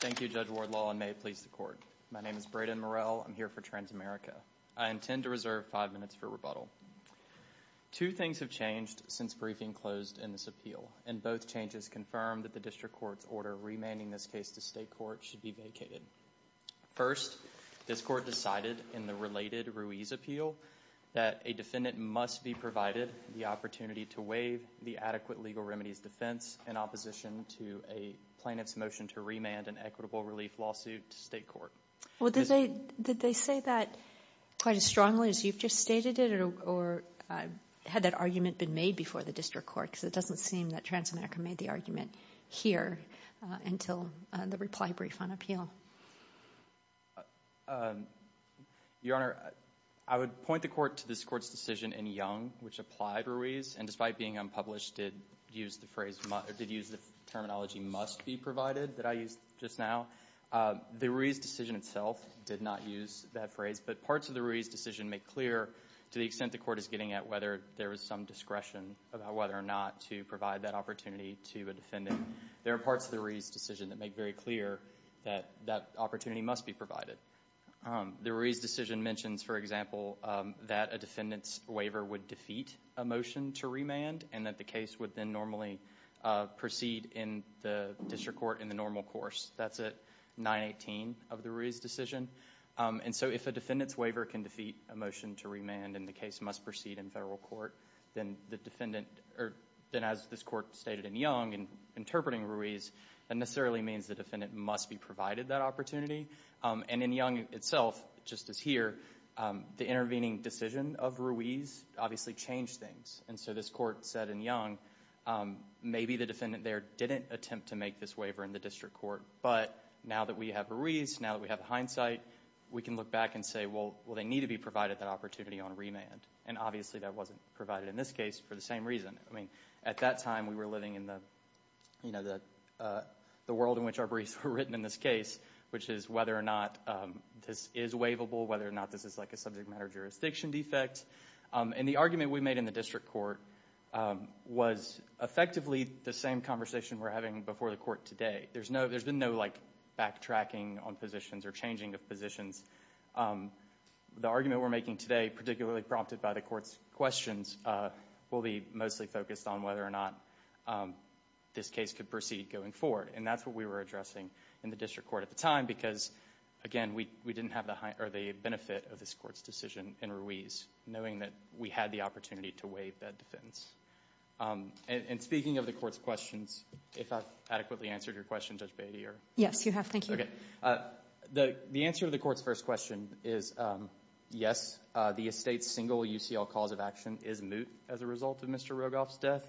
Thank you, Judge Wardlaw, and may it please the Court. My name is Brayden Morell. I'm here for Transamerica. I intend to reserve five minutes for rebuttal. Two things have changed since briefing closed in this appeal, and both changes confirm that the District Court's order remanding this case to State Court should be vacated. First, this Court decided in the related Ruiz appeal that a defendant must be provided the opportunity to waive the adequate legal remedies defense in opposition to a plaintiff's motion to remand an equitable relief lawsuit to State Court. Well, did they say that quite as strongly as you've just stated it, or had that argument been made before the District Court, because it doesn't seem that Transamerica made the argument here until the reply brief on appeal? Your Honor, I would point the Court to this Court's decision in Young, which applied Ruiz, and despite being unpublished, did use the phrase, did use the terminology must be provided that I used just now. The Ruiz decision itself did not use that phrase, but parts of the Ruiz decision make clear to the extent the Court is getting at whether there is some discretion about whether or not to provide that opportunity to a defendant. There are parts of the Ruiz decision that make very clear that that opportunity must be provided. The Ruiz decision mentions, for example, that a defendant's waiver would defeat a motion to remand, and that the case would then normally proceed in the District Court in the normal course. That's at 918 of the Ruiz decision, and so if a defendant's waiver can defeat a motion to remand, and the case must proceed in federal court, then the defendant, or then as this Court stated in Young, in interpreting Ruiz, that necessarily means the defendant must be provided that opportunity, and in Young itself, just as here, the intervening decision of Ruiz obviously changed things, and so this Court said in Young, maybe the defendant there didn't attempt to make this waiver in the District Court, but now that we have Ruiz, now that we have hindsight, we can look back and say, well, they need to be provided that opportunity on remand, and obviously that wasn't provided in this case for the same reason. I mean, at that time, we were living in the world in which our briefs were written in this case, which is whether or not this is waivable, whether or not this is like a subject matter jurisdiction defect, and the argument we made in the District Court was effectively the same conversation we're having before the Court today. There's been no backtracking on positions or changing of positions. The argument we're making today, particularly prompted by the Court's questions, will be mostly focused on whether or not this case could proceed going forward, and that's what we were addressing in the District Court at the time, because, again, we didn't have the benefit of this Court's decision in Ruiz, knowing that we had the opportunity to waive that defense. And speaking of the Court's questions, if I've adequately answered your question, Judge Beatty. Yes, you have. Thank you. Okay. The answer to the Court's first question is, yes, the estate's single UCL cause of action is moot as a result of Mr. Rogoff's death,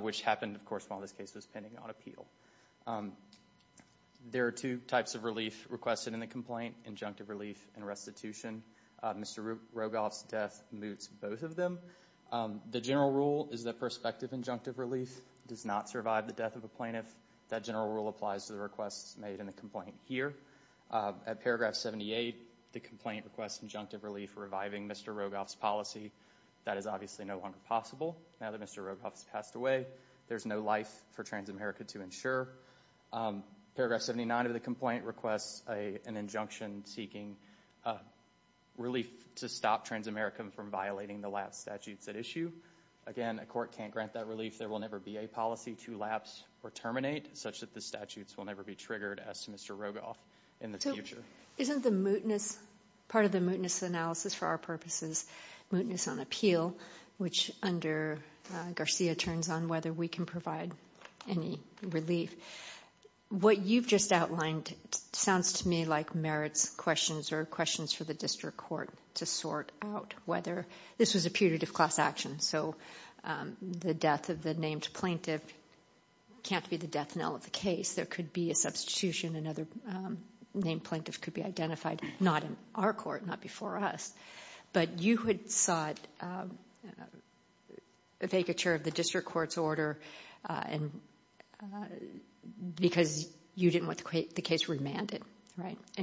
which happened, of course, while this case was pending on appeal. There are two types of relief requested in the complaint, injunctive relief and restitution. Mr. Rogoff's death moots both of them. The general rule is that prospective injunctive relief does not survive the death of a plaintiff. That general rule applies to the requests made in the complaint here. At paragraph 78, the complaint requests injunctive relief reviving Mr. Rogoff's policy. That is obviously no longer possible now that Mr. Rogoff's passed away. There's no life for Transamerica to ensure. Paragraph 79 of the complaint requests an injunction seeking relief to stop Transamerica from violating the lapse statutes at issue. Again, a court can't grant that relief. There will never be a policy to lapse or terminate such that the statutes will never be triggered as to Mr. Rogoff in the future. Isn't the mootness, part of the mootness analysis for our purposes, mootness on appeal, which under Garcia turns on whether we can provide any relief. What you've just outlined sounds to me like merits questions or questions for the district court to sort out whether, this was a putative class action, so the death of the named plaintiff can't be the death knell of the case. There could be a substitution, another named plaintiff could be identified. Not in our court, not before us. But you had sought a vacature of the district court's order because you didn't want the case remanded.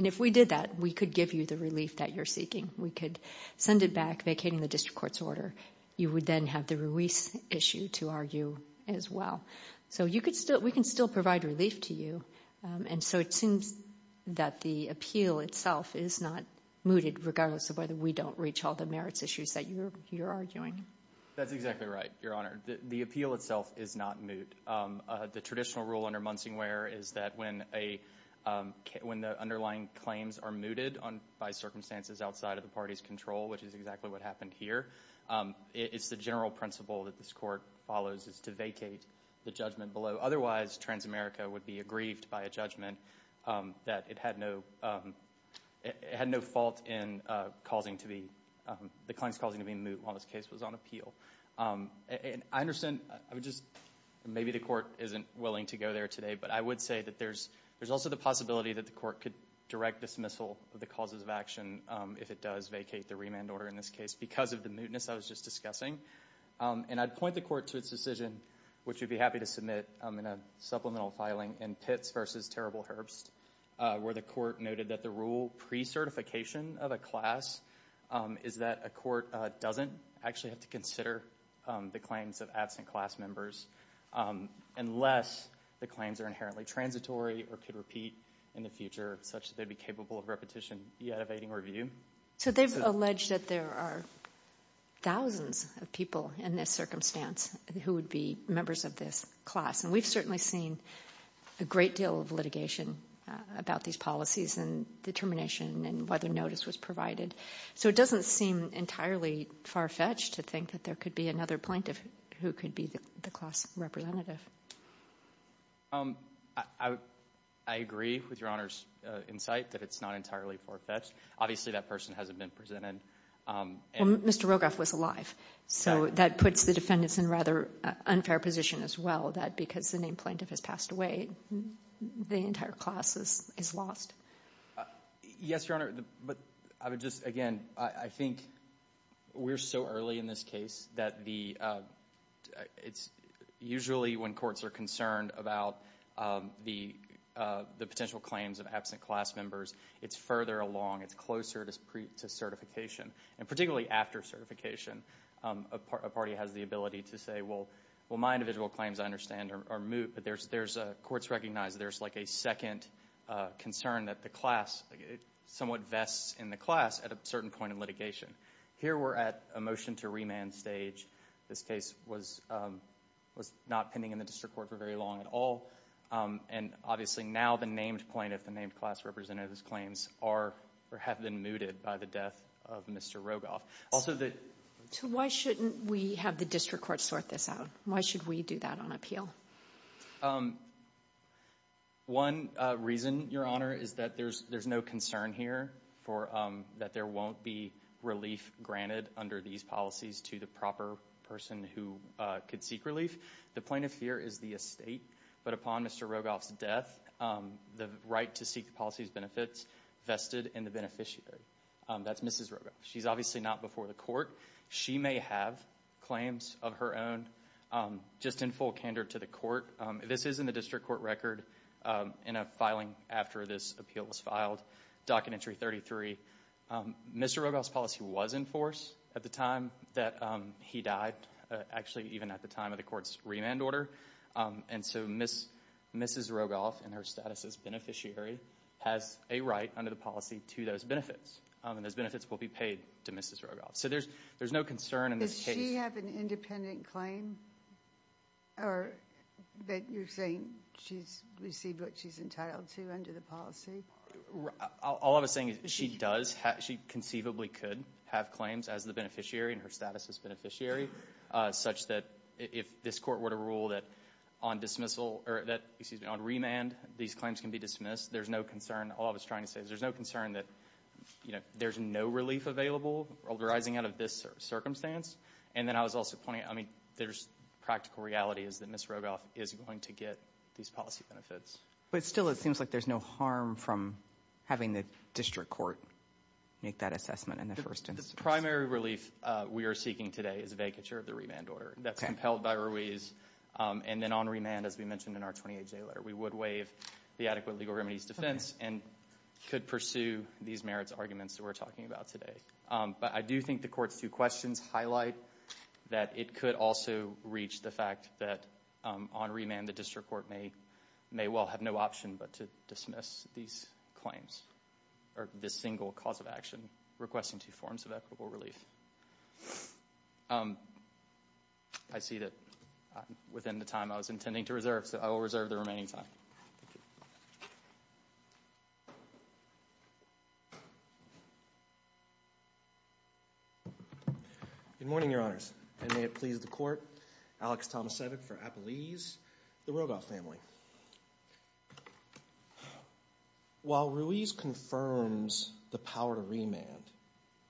If we did that, we could give you the relief that you're seeking. We could send it back vacating the district court's order. You would then have the release issue to argue as well. We can still provide relief to you, and so it seems that the appeal itself is not mooted regardless of whether we don't reach all the merits issues that you're arguing. That's exactly right, Your Honor. The appeal itself is not moot. The traditional rule under Munsingware is that when the underlying claims are mooted by circumstances outside of the party's control, which is exactly what happened here, it's the general principle that this court follows is to vacate the judgment below. Otherwise, Transamerica would be aggrieved by a judgment that it had no fault in causing to be, the claims causing to be moot while this case was on appeal. I understand, maybe the court isn't willing to go there today, but I would say that there's also the possibility that the court could direct dismissal of the causes of action if it does vacate the remand order in this case because of the mootness I was just discussing. I'd point the court to its decision, which we'd be happy to submit in a supplemental filing in Pitts v. Terrible Herbst, where the court noted that the rule pre-certification of a class is that a court doesn't actually have to consider the claims of absent class members unless the claims are inherently transitory or could repeat in the future such that they'd be capable of repetition yet evading review. So they've alleged that there are thousands of people in this circumstance who would be members of this class, and we've certainly seen a great deal of litigation about these policies and determination and whether notice was provided. So it doesn't seem entirely far-fetched to think that there could be another plaintiff who could be the class representative. I agree with Your Honor's insight that it's not entirely far-fetched. Obviously that person hasn't been presented. Mr. Rogoff was alive, so that puts the defendants in a rather unfair position as well that because the named plaintiff has passed away, the entire class is lost. Yes, Your Honor, but I would just, again, I think we're so early in this case that usually when courts are concerned about the potential claims of absent class members, it's further along. It's closer to certification, and particularly after certification, a party has the ability to say, well, my individual claims, I understand, are moot, but courts recognize there's like a second concern that the class somewhat vests in the class at a certain point in litigation. Here we're at a motion to remand stage. This case was not pending in the district court for very long at all, and obviously now the named plaintiff, the named class representative's claims have been mooted by the death of Mr. Rogoff. So why shouldn't we have the district court sort this out? Why should we do that on appeal? One reason, Your Honor, is that there's no concern here that there won't be relief granted under these policies to the proper person who could seek relief. The plaintiff here is the estate, but upon Mr. Rogoff's death, the right to seek the policy's benefits vested in the beneficiary. That's Mrs. Rogoff. She's obviously not before the court. She may have claims of her own. Just in full candor to the court, this is in the district court record in a filing after this appeal was filed, Documentary 33. Mr. Rogoff's policy was in force at the time that he died, actually even at the time of the court's remand order, and so Mrs. Rogoff, in her status as beneficiary, has a right under the policy to those benefits, and those benefits will be paid to Mrs. Rogoff. So there's no concern in this case. Does she have an independent claim, or that you're saying she's received what she's entitled to under the policy? All I'm saying is she does. She conceivably could have claims as the beneficiary in her status as beneficiary, such that if this court were to rule that on remand, these claims can be dismissed, there's no concern. All I was trying to say is there's no concern that there's no relief available arising out of this circumstance, and then I was also pointing out, I mean, there's practical reality is that Mrs. Rogoff is going to get these policy benefits. But still it seems like there's no harm from having the district court make that assessment in the first instance. The primary relief we are seeking today is vacature of the remand order. That's compelled by Ruiz, and then on remand, as we mentioned in our 28-day letter, we would the adequate legal remedies defense, and could pursue these merits arguments that we're talking about today. But I do think the court's two questions highlight that it could also reach the fact that on remand the district court may well have no option but to dismiss these claims, or this single cause of action, requesting two forms of equitable relief. I see that within the time I was intending to reserve, so I will reserve the remaining time. Good morning, Your Honors. And may it please the court, Alex Tomasevic for Appalese, the Rogoff family. While Ruiz confirms the power to remand,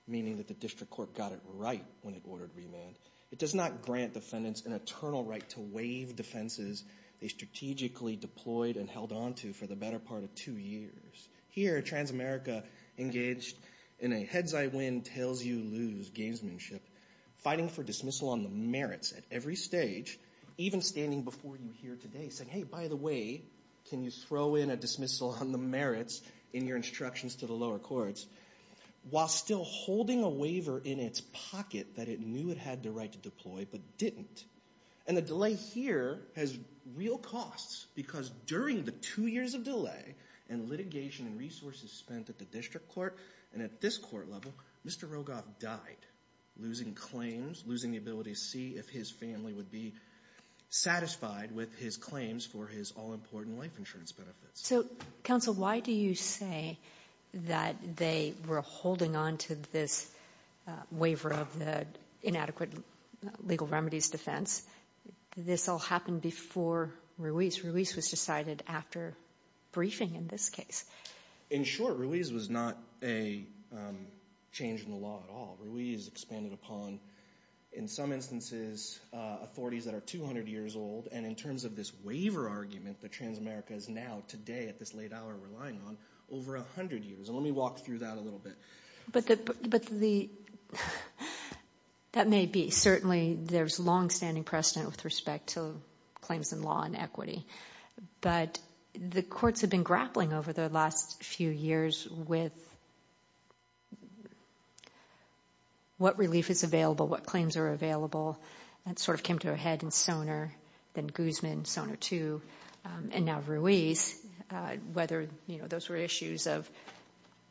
meaning that the district court got it right when it ordered remand, it does not grant defendants an eternal right to waive defenses they strategically deployed and held onto for the better part of two years. Here Transamerica engaged in a heads-I-win, tails-you-lose gamesmanship, fighting for dismissal on the merits at every stage, even standing before you here today saying, hey, by the way, can you throw in a dismissal on the merits in your instructions to the lower courts, while still holding a waiver in its pocket that it knew it had the right to deploy but didn't. And the delay here has real costs, because during the two years of delay and litigation and resources spent at the district court and at this court level, Mr. Rogoff died, losing claims, losing the ability to see if his family would be satisfied with his claims for his all-important life insurance benefits. So, counsel, why do you say that they were holding onto this waiver of the inadequate legal remedies defense? This all happened before Ruiz. Ruiz was decided after briefing in this case. In short, Ruiz was not a change in the law at all. Ruiz expanded upon, in some instances, authorities that are 200 years old, and in terms of this waiver argument that Transamerica is now, today, at this late hour, relying on, over 100 years. Let me walk through that a little bit. That may be. Certainly, there's long-standing precedent with respect to claims in law and equity. But the courts have been grappling over the last few years with what relief is available, what claims are available, and sort of came to a head in Sonar, then Guzman, Sonar 2, and now Ruiz, whether those were issues of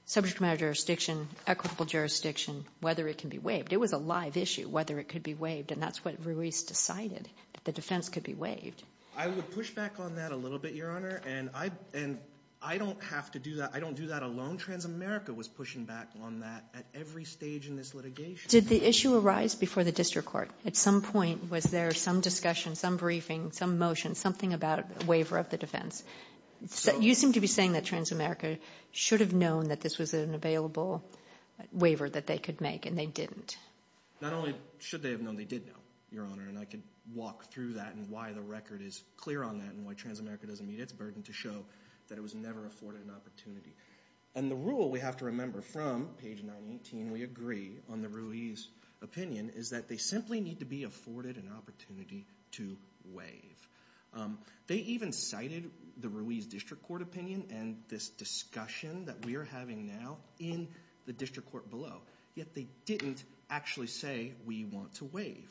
subject matter jurisdiction, equitable jurisdiction, whether it can be waived. It was a live issue, whether it could be waived, and that's what Ruiz decided, that the defense could be waived. I would push back on that a little bit, Your Honor, and I don't have to do that, I don't do that alone. Transamerica was pushing back on that at every stage in this litigation. Did the issue arise before the district court? At some point, was there some discussion, some briefing, some motion, something about a waiver of the defense? You seem to be saying that Transamerica should have known that this was an available waiver that they could make, and they didn't. Not only should they have known, they did know, Your Honor, and I could walk through that and why the record is clear on that, and why Transamerica doesn't meet its burden to show that it was never afforded an opportunity. And the rule we have to remember from page 918, we agree on the Ruiz opinion, is that they simply need to be afforded an opportunity to waive. They even cited the Ruiz district court opinion and this discussion that we are having now in the district court below, yet they didn't actually say, we want to waive.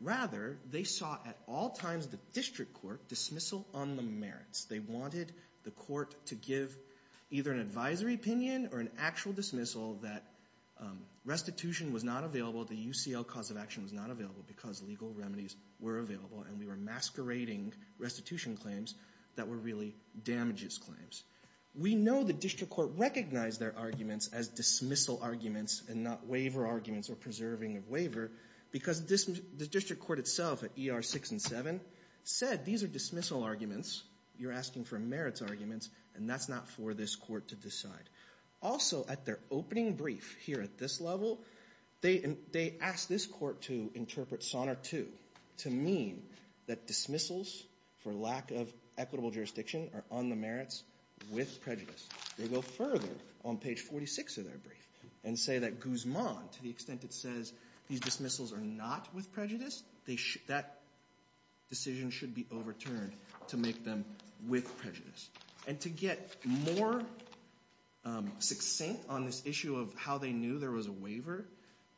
Rather, they saw at all times the district court dismissal on the merits. They wanted the court to give either an advisory opinion or an actual dismissal that restitution was not available, the UCL cause of action was not available because legal remedies were available and we were masquerading restitution claims that were really damages claims. We know the district court recognized their arguments as dismissal arguments and not waiver arguments or preserving of waiver because the district court itself at ER 6 and 7 said, these are dismissal arguments, you're asking for merits arguments and that's not for this court to decide. Also at their opening brief here at this level, they asked this court to interpret SONAR 2 to mean that dismissals for lack of equitable jurisdiction are on the merits with prejudice. They go further on page 46 of their brief and say that Guzman, to the extent it says these dismissals are not with prejudice, that decision should be overturned to make them with prejudice. And to get more succinct on this issue of how they knew there was a waiver,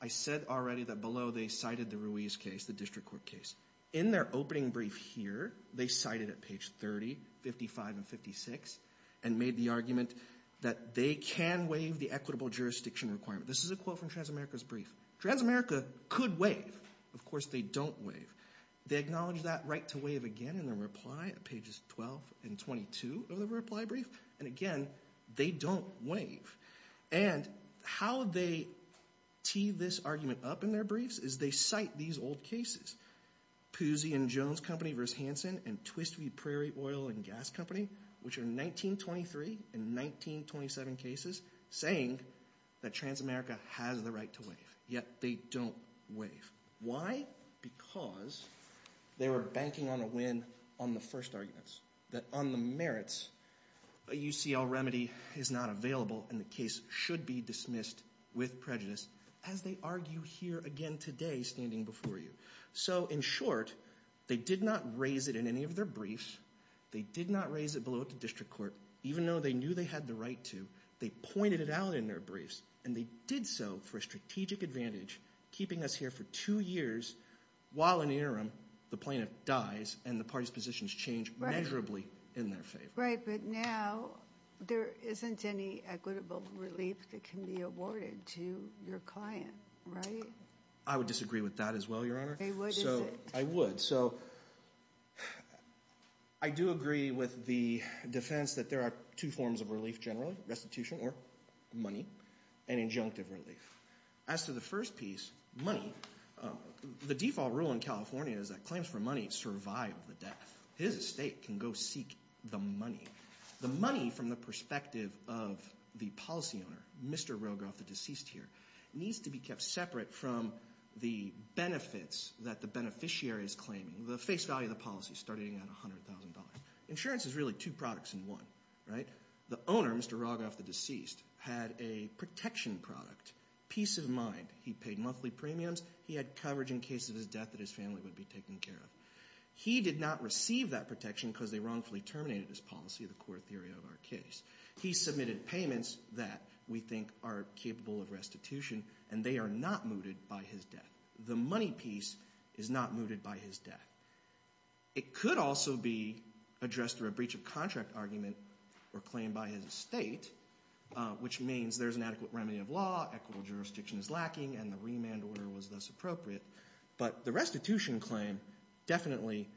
I said already that below they cited the Ruiz case, the district court case. In their opening brief here, they cited at page 30, 55 and 56 and made the argument that they can waive the equitable jurisdiction requirement. This is a quote from Transamerica's brief. Transamerica could waive. Of course, they don't waive. They acknowledge that right to waive again in their reply at pages 12 and 22 of their reply brief. And again, they don't waive. And how they tee this argument up in their briefs is they cite these old cases, Pusey and Jones Company versus Hanson and Twistweed Prairie Oil and Gas Company, which are 1923 and 1927 cases, saying that Transamerica has the right to waive. Yet, they don't waive. Why? Because they were banking on a win on the first arguments, that on the merits, a UCL remedy is not available and the case should be dismissed with prejudice as they argue here again today standing before you. So, in short, they did not raise it in any of their briefs. They did not raise it below up to district court, even though they knew they had the right to. They pointed it out in their briefs. And they did so for a strategic advantage, keeping us here for two years while in the interim, the plaintiff dies and the parties' positions change measurably in their favor. Right. But now, there isn't any equitable relief that can be awarded to your client, right? I would disagree with that as well, Your Honor. You would, isn't it? I would. So, I do agree with the defense that there are two forms of relief generally, restitution or money, and injunctive relief. As to the first piece, money, the default rule in California is that claims for money survive the death. His estate can go seek the money. The money from the perspective of the policy owner, Mr. Rogoff, the deceased here, needs to be kept separate from the benefits that the beneficiary is claiming, the face value of the policy starting at $100,000. Insurance is really two products in one, right? The owner, Mr. Rogoff, the deceased, had a protection product, peace of mind. He paid monthly premiums. He had coverage in case of his death that his family would be taken care of. He did not receive that protection because they wrongfully terminated his policy, the core theory of our case. He submitted payments that we think are capable of restitution, and they are not mooted by his death. The money piece is not mooted by his death. It could also be addressed through a breach of contract argument or claim by his estate, which means there's an adequate remedy of law, equitable jurisdiction is lacking, and the remand order was thus appropriate. But the restitution claim definitely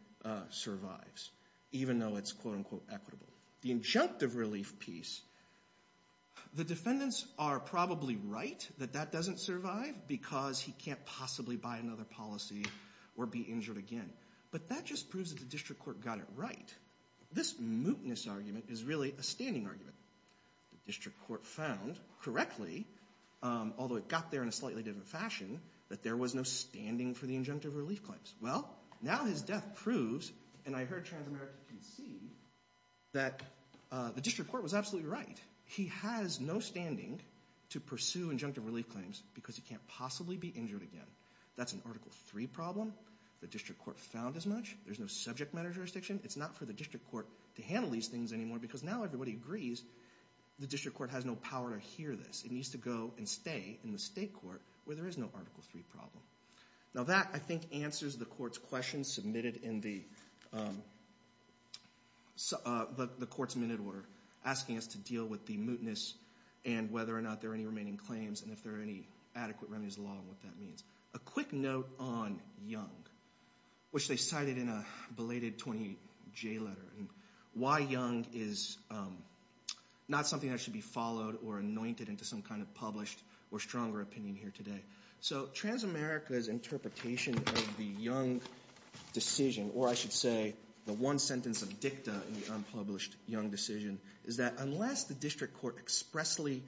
survives, even though it's quote, unquote, equitable. The injunctive relief piece, the defendants are probably right that that doesn't survive because he can't possibly buy another policy or be injured again. But that just proves that the district court got it right. This mootness argument is really a standing argument. The district court found correctly, although it got there in a slightly different fashion, that there was no standing for the injunctive relief claims. Well, now his death proves, and I heard Transamerica concede, that the district court was absolutely right. He has no standing to pursue injunctive relief claims because he can't possibly be injured again. That's an Article III problem. The district court found as much. There's no subject matter jurisdiction. It's not for the district court to handle these things anymore because now everybody agrees, the district court has no power to hear this. It needs to go and stay in the state court where there is no Article III problem. Now that, I think, answers the court's question submitted in the court's minute order, asking us to deal with the mootness and whether or not there are any remaining claims and if there are any adequate remedies along what that means. A quick note on Young, which they cited in a belated 20-J letter, why Young is not something that should be followed or anointed into some kind of published or stronger opinion here today. So, Transamerica's interpretation of the Young decision, or I should say, the one sentence of dicta in the unpublished Young decision is that unless the district court expressly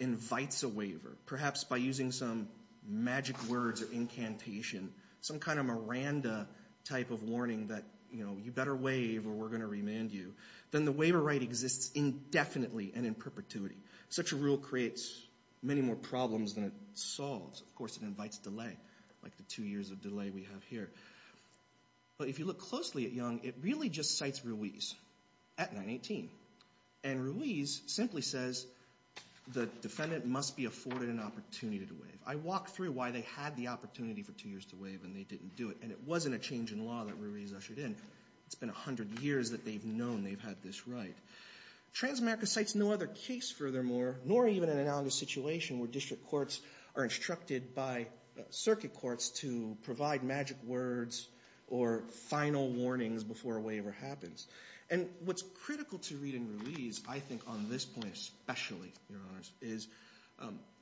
invites a waiver, perhaps by using some magic words or incantation, some kind of Miranda type of warning that, you know, you better waive or we're going to remand you, then the waiver right exists indefinitely and in perpetuity. Such a rule creates many more problems than it solves. Of course, it invites delay, like the two years of delay we have here. But if you look closely at Young, it really just cites Ruiz at 918. And Ruiz simply says the defendant must be afforded an opportunity to waive. I walked through why they had the opportunity for two years to waive and they didn't do it. And it wasn't a change in law that Ruiz ushered in. It's been 100 years that they've known they've had this right. Transamerica cites no other case, furthermore, nor even an analogous situation where district courts are instructed by circuit courts to provide magic words or final warnings before a waiver happens. And what's critical to read in Ruiz, I think on this point especially, Your Honors, is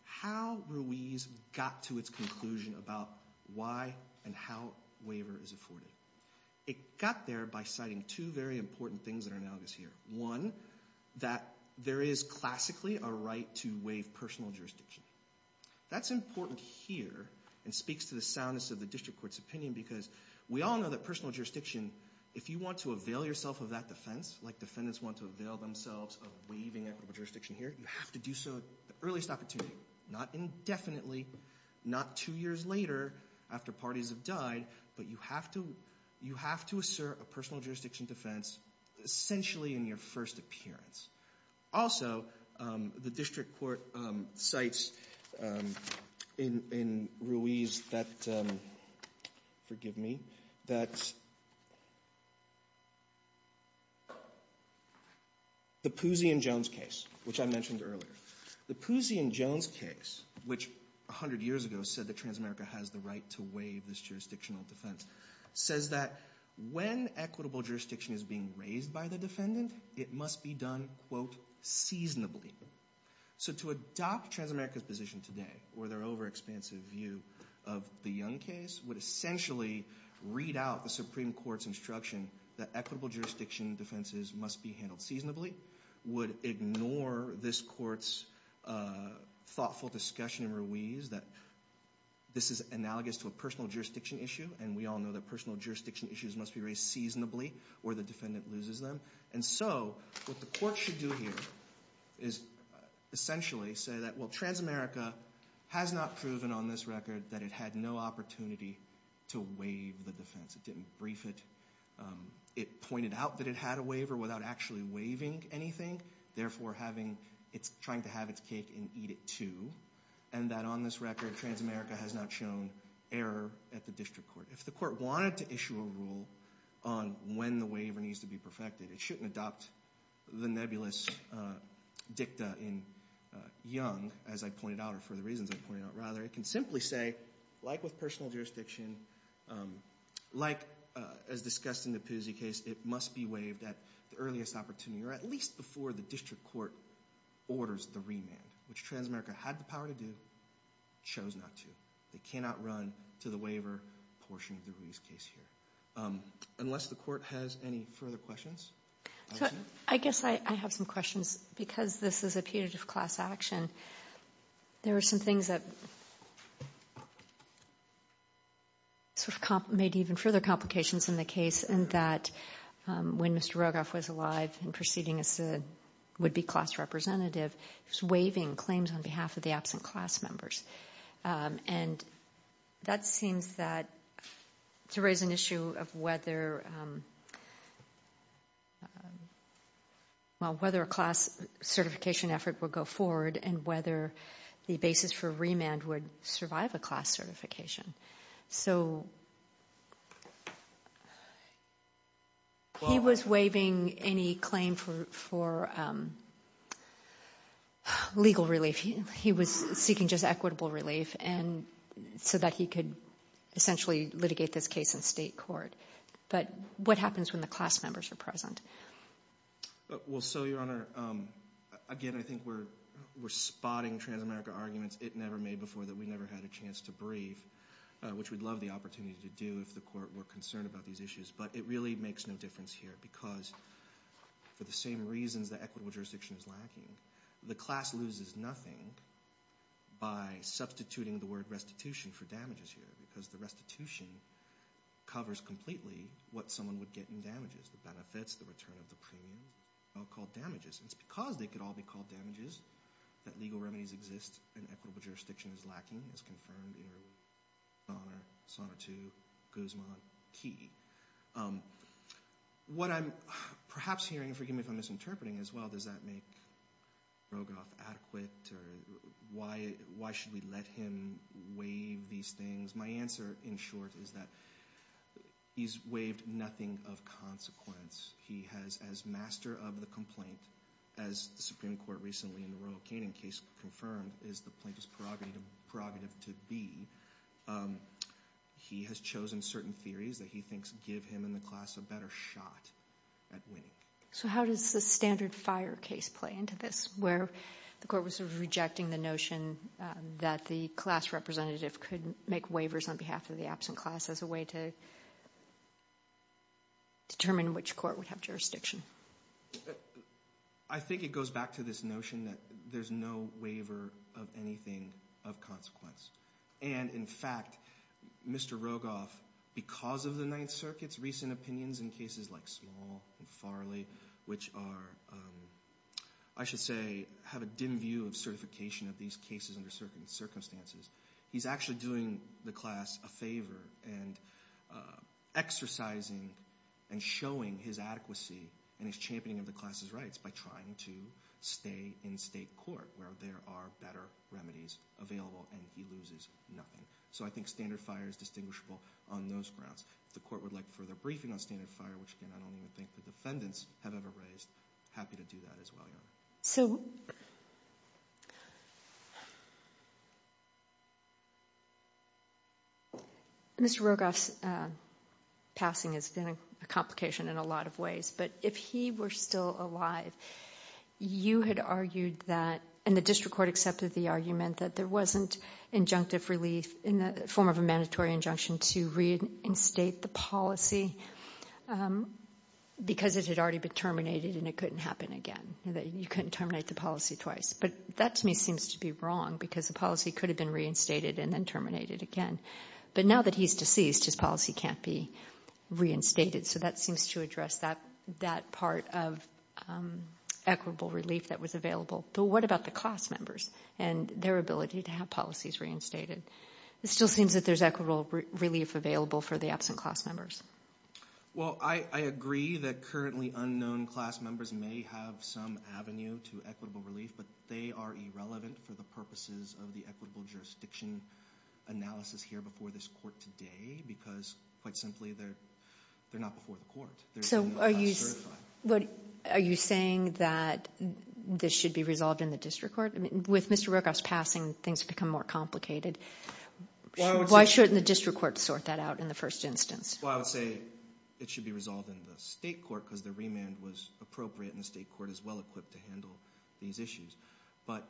how Ruiz got to its conclusion about why and how waiver is afforded. It got there by citing two very important things that are analogous here. One, that there is classically a right to waive personal jurisdiction. That's important here and speaks to the soundness of the district court's opinion because we all know that personal jurisdiction, if you want to avail yourself of that defense, like defendants want to avail themselves of waiving equitable jurisdiction here, you have to do so at the earliest opportunity. Not indefinitely, not two years later after parties have died, but you have to assert a personal jurisdiction defense essentially in your first appearance. Also, the district court cites in Ruiz that, forgive me, that's the Pusey and Jones case, which I mentioned earlier. The Pusey and Jones case, which 100 years ago said that Transamerica has the right to waive this jurisdictional defense, says that when equitable jurisdiction is being raised by the defendant, it must be done, quote, seasonably. So to adopt Transamerica's position today, or their overexpansive view of the Young case, would essentially read out the Supreme Court's instruction that equitable jurisdiction defenses must be handled seasonably, would ignore this court's thoughtful discussion in Ruiz that this is analogous to a personal jurisdiction issue. And we all know that personal jurisdiction issues must be raised seasonably or the defendant loses them. And so what the court should do here is essentially say that, well, Transamerica has not proven on this record that it had no opportunity to waive the defense. It didn't brief it. It pointed out that it had a waiver without actually waiving anything, therefore, it's trying to have its cake and eat it too. And that on this record, Transamerica has not shown error at the district court. If the court wanted to issue a rule on when the waiver needs to be perfected, it shouldn't adopt the nebulous dicta in Young, as I pointed out, or for the reasons I pointed out. Rather, it can simply say, like with personal jurisdiction, like as discussed in the Pizzi case, it must be waived at the earliest opportunity, or at least before the district court orders the remand, which Transamerica had the power to do, chose not to. They cannot run to the waiver portion of the Ruiz case here. Unless the court has any further questions? I guess I have some questions, because this is a punitive class action. There are some things that sort of made even further complications in the case. And that when Mr. Rogoff was alive and proceeding as a would-be class representative, he was waiving claims on behalf of the absent class members. And that seems that to raise an issue of whether a class certification effort would go forward and whether the basis for remand would survive a class certification. So he was waiving any claim for legal relief. He was seeking just equitable relief, so that he could essentially litigate this case in state court. But what happens when the class members are present? Well, so, Your Honor, again, I think we're spotting Transamerica arguments it never made before that we never had a chance to brief. Which we'd love the opportunity to do if the court were concerned about these issues. But it really makes no difference here, because for the same reasons that equitable jurisdiction is lacking, the class loses nothing by substituting the word restitution for damages here. Because the restitution covers completely what someone would get in damages. The benefits, the return of the premium, are called damages. And it's because they could all be called damages that legal remedies exist, and equitable jurisdiction is lacking. As confirmed in your Honor, Sonatu, Guzman, Key. What I'm perhaps hearing, forgive me if I'm misinterpreting as well, does that make Rogoff adequate? Or why should we let him waive these things? Because my answer, in short, is that he's waived nothing of consequence. He has, as master of the complaint, as the Supreme Court recently in the Royal Canning case confirmed, is the plaintiff's prerogative to be, he has chosen certain theories that he thinks give him and the class a better shot at winning. So how does the standard fire case play into this, where the court was sort of rejecting the notion that the class representative could make waivers on behalf of the absent class as a way to determine which court would have jurisdiction? I think it goes back to this notion that there's no waiver of anything of consequence. And in fact, Mr. Rogoff, because of the Ninth Circuit's recent opinions in cases like Small and Early, which are, I should say, have a dim view of certification of these cases under certain circumstances. He's actually doing the class a favor and exercising and showing his adequacy and his championing of the class's rights by trying to stay in state court, where there are better remedies available and he loses nothing. So I think standard fire is distinguishable on those grounds. If the court would like further briefing on standard fire, which again, I don't even think the defendants have ever raised, happy to do that as well, Your Honor. So, Mr. Rogoff's passing has been a complication in a lot of ways. But if he were still alive, you had argued that, and the district court accepted the argument that there wasn't injunctive relief in the form of a mandatory injunction to reinstate the policy because it had already been terminated and it couldn't happen again. You couldn't terminate the policy twice. But that to me seems to be wrong because the policy could have been reinstated and then terminated again. But now that he's deceased, his policy can't be reinstated. So that seems to address that part of equitable relief that was available. But what about the class members and their ability to have policies reinstated? It still seems that there's equitable relief available for the absent class members. Well, I agree that currently unknown class members may have some avenue to equitable relief, but they are irrelevant for the purposes of the equitable jurisdiction analysis here before this court today. Because, quite simply, they're not before the court. They're not certified. Are you saying that this should be resolved in the district court? With Mr. Rochaff's passing, things have become more complicated. Why shouldn't the district court sort that out in the first instance? Well, I would say it should be resolved in the state court because the remand was appropriate and the state court is well equipped to handle these issues. But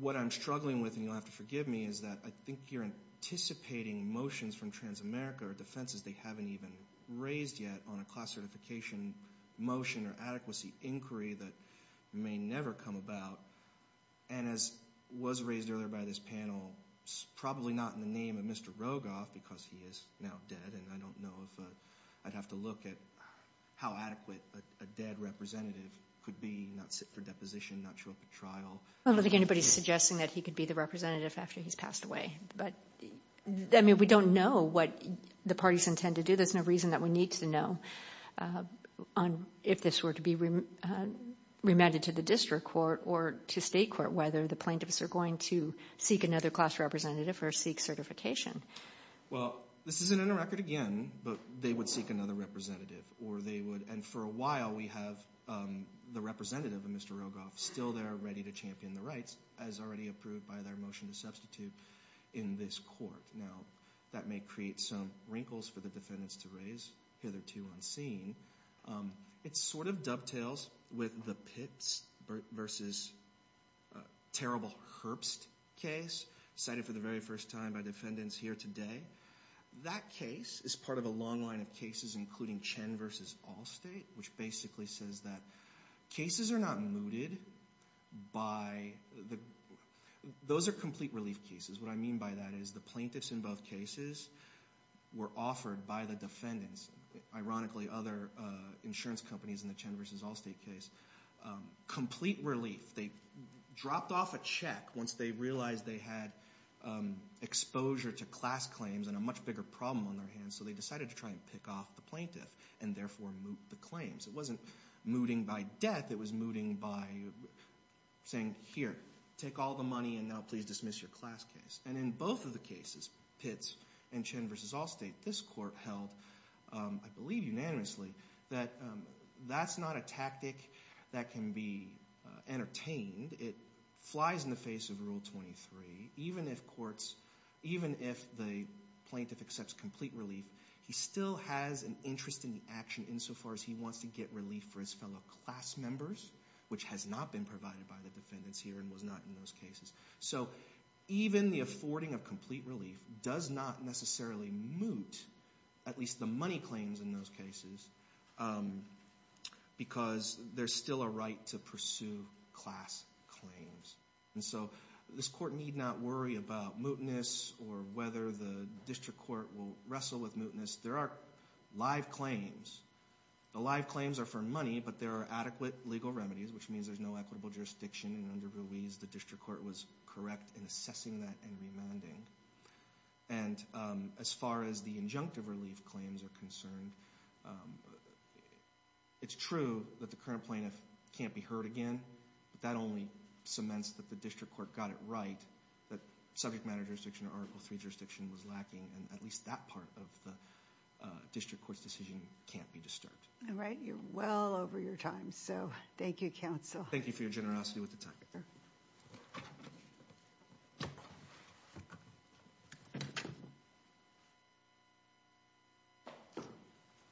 what I'm struggling with, and you'll have to forgive me, is that I think you're anticipating motions from Transamerica or defenses they haven't even raised yet on a class certification motion or an adequacy inquiry that may never come about. And as was raised earlier by this panel, it's probably not in the name of Mr. Rochaff because he is now dead. And I don't know if I'd have to look at how adequate a dead representative could be, not sit for deposition, not show up at trial. I don't think anybody's suggesting that he could be the representative after he's passed away. But, I mean, we don't know what the parties intend to do. So there's no reason that we need to know if this were to be remanded to the district court or to state court whether the plaintiffs are going to seek another class representative or seek certification. Well, this isn't in the record again, but they would seek another representative or they would, and for a while we have the representative of Mr. Rochaff still there ready to champion the rights as already approved by their motion to substitute in this court. Now, that may create some wrinkles for the defendants to raise hitherto unseen. It sort of dovetails with the Pitts versus terrible Herbst case, cited for the very first time by defendants here today. That case is part of a long line of cases including Chen versus Allstate, which basically says that cases are not mooted by, those are complete relief cases. What I mean by that is the plaintiffs in both cases were offered by the defendants, ironically other insurance companies in the Chen versus Allstate case, complete relief. They dropped off a check once they realized they had exposure to class claims and a much bigger problem on their hands. So they decided to try and pick off the plaintiff and therefore moot the claims. It wasn't mooting by death, it was mooting by saying, here, take all the money and now please dismiss your class case. And in both of the cases, Pitts and Chen versus Allstate, this court held, I believe unanimously, that that's not a tactic that can be entertained. It flies in the face of rule 23, even if the plaintiff accepts complete relief. He still has an interest in the action insofar as he wants to get relief for his fellow class members, which has not been provided by the defendants here and was not in those cases. So even the affording of complete relief does not necessarily moot, at least the money claims in those cases, because there's still a right to pursue class claims. And so this court need not worry about mootness or whether the district court will wrestle with mootness. There are live claims. The live claims are for money, but there are adequate legal remedies, which means there's no equitable jurisdiction. And under Ruiz, the district court was correct in assessing that and remanding. And as far as the injunctive relief claims are concerned, it's true that the current plaintiff can't be heard again, but that only cements that the district court got it right. That subject matter jurisdiction or Article III jurisdiction was lacking, and at least that part of the district court's decision can't be disturbed. All right, you're well over your time, so thank you, counsel. Thank you for your generosity with the time. Sure.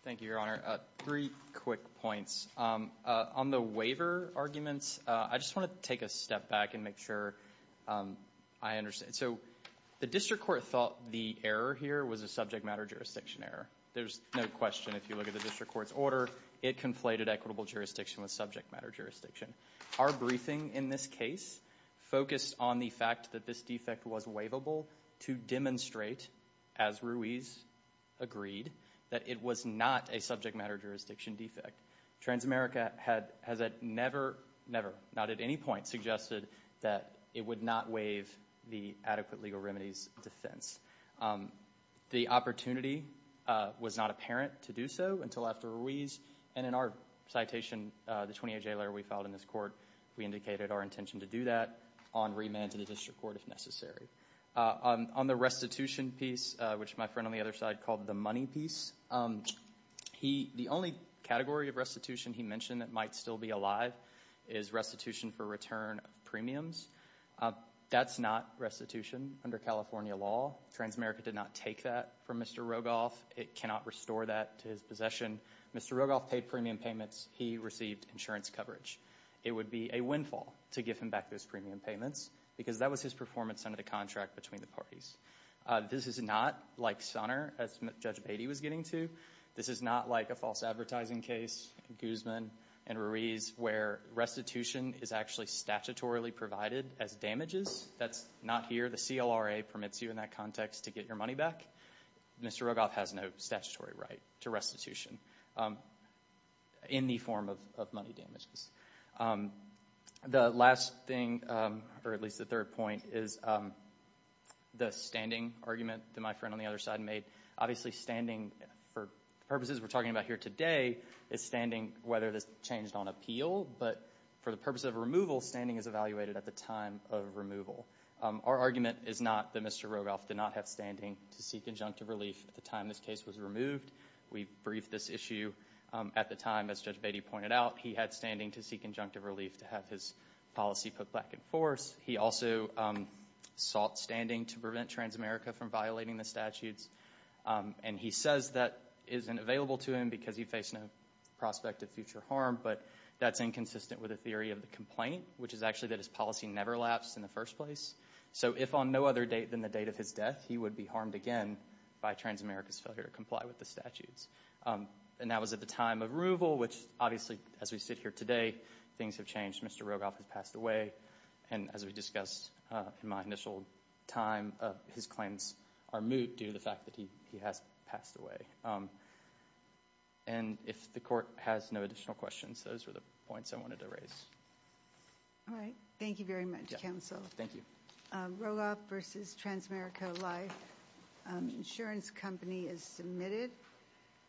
Thank you, Your Honor. Three quick points. On the waiver arguments, I just want to take a step back and make sure I understand. So the district court thought the error here was a subject matter jurisdiction error. There's no question if you look at the district court's order, it conflated equitable jurisdiction with subject matter jurisdiction. Our briefing in this case focused on the fact that this defect was waivable to demonstrate, as Ruiz agreed, that it was not a subject matter jurisdiction defect. Transamerica has never, never, not at any point, suggested that it would not waive the adequate legal remedies defense. The opportunity was not apparent to do so until after Ruiz, and in our citation, the 28-J letter we filed in this court, we indicated our intention to do that on remand to the district court if necessary. On the restitution piece, which my friend on the other side called the money piece, the only category of restitution he mentioned that might still be alive is restitution for return of premiums. That's not restitution under California law. Transamerica did not take that from Mr. Rogoff. It cannot restore that to his possession. Mr. Rogoff paid premium payments. He received insurance coverage. It would be a windfall to give him back those premium payments because that was his performance under the contract between the parties. This is not like Sonner, as Judge Beatty was getting to. This is not like a false advertising case in Guzman and Ruiz where restitution is actually statutorily provided as damages. That's not here. The CLRA permits you in that context to get your money back. Mr. Rogoff has no statutory right to restitution in the form of money damages. The last thing, or at least the third point, is the standing argument that my friend on the other side made. Obviously, standing for purposes we're talking about here today is standing whether this changed on appeal, but for the purpose of removal, standing is evaluated at the time of removal. Our argument is not that Mr. Rogoff did not have standing to seek injunctive relief at the time this case was removed. We briefed this issue at the time, as Judge Beatty pointed out. He had standing to seek injunctive relief to have his policy put back in force. He also sought standing to prevent Transamerica from violating the statutes. He says that isn't available to him because he faced no prospect of future harm, but that's inconsistent with the theory of the complaint, which is actually that his policy never lapsed in the first place. If on no other date than the date of his death, he would be harmed again by Transamerica's failure to comply with the statutes. That was at the time of removal, which obviously, as we sit here today, things have changed. Mr. Rogoff has passed away. As we discussed in my initial time, his claims are moot due to the fact that he has passed away. If the court has no additional questions, those were the points I wanted to raise. All right. Thank you very much, counsel. Thank you. Rogoff v. Transamerica Life Insurance Company is submitted. Thank you.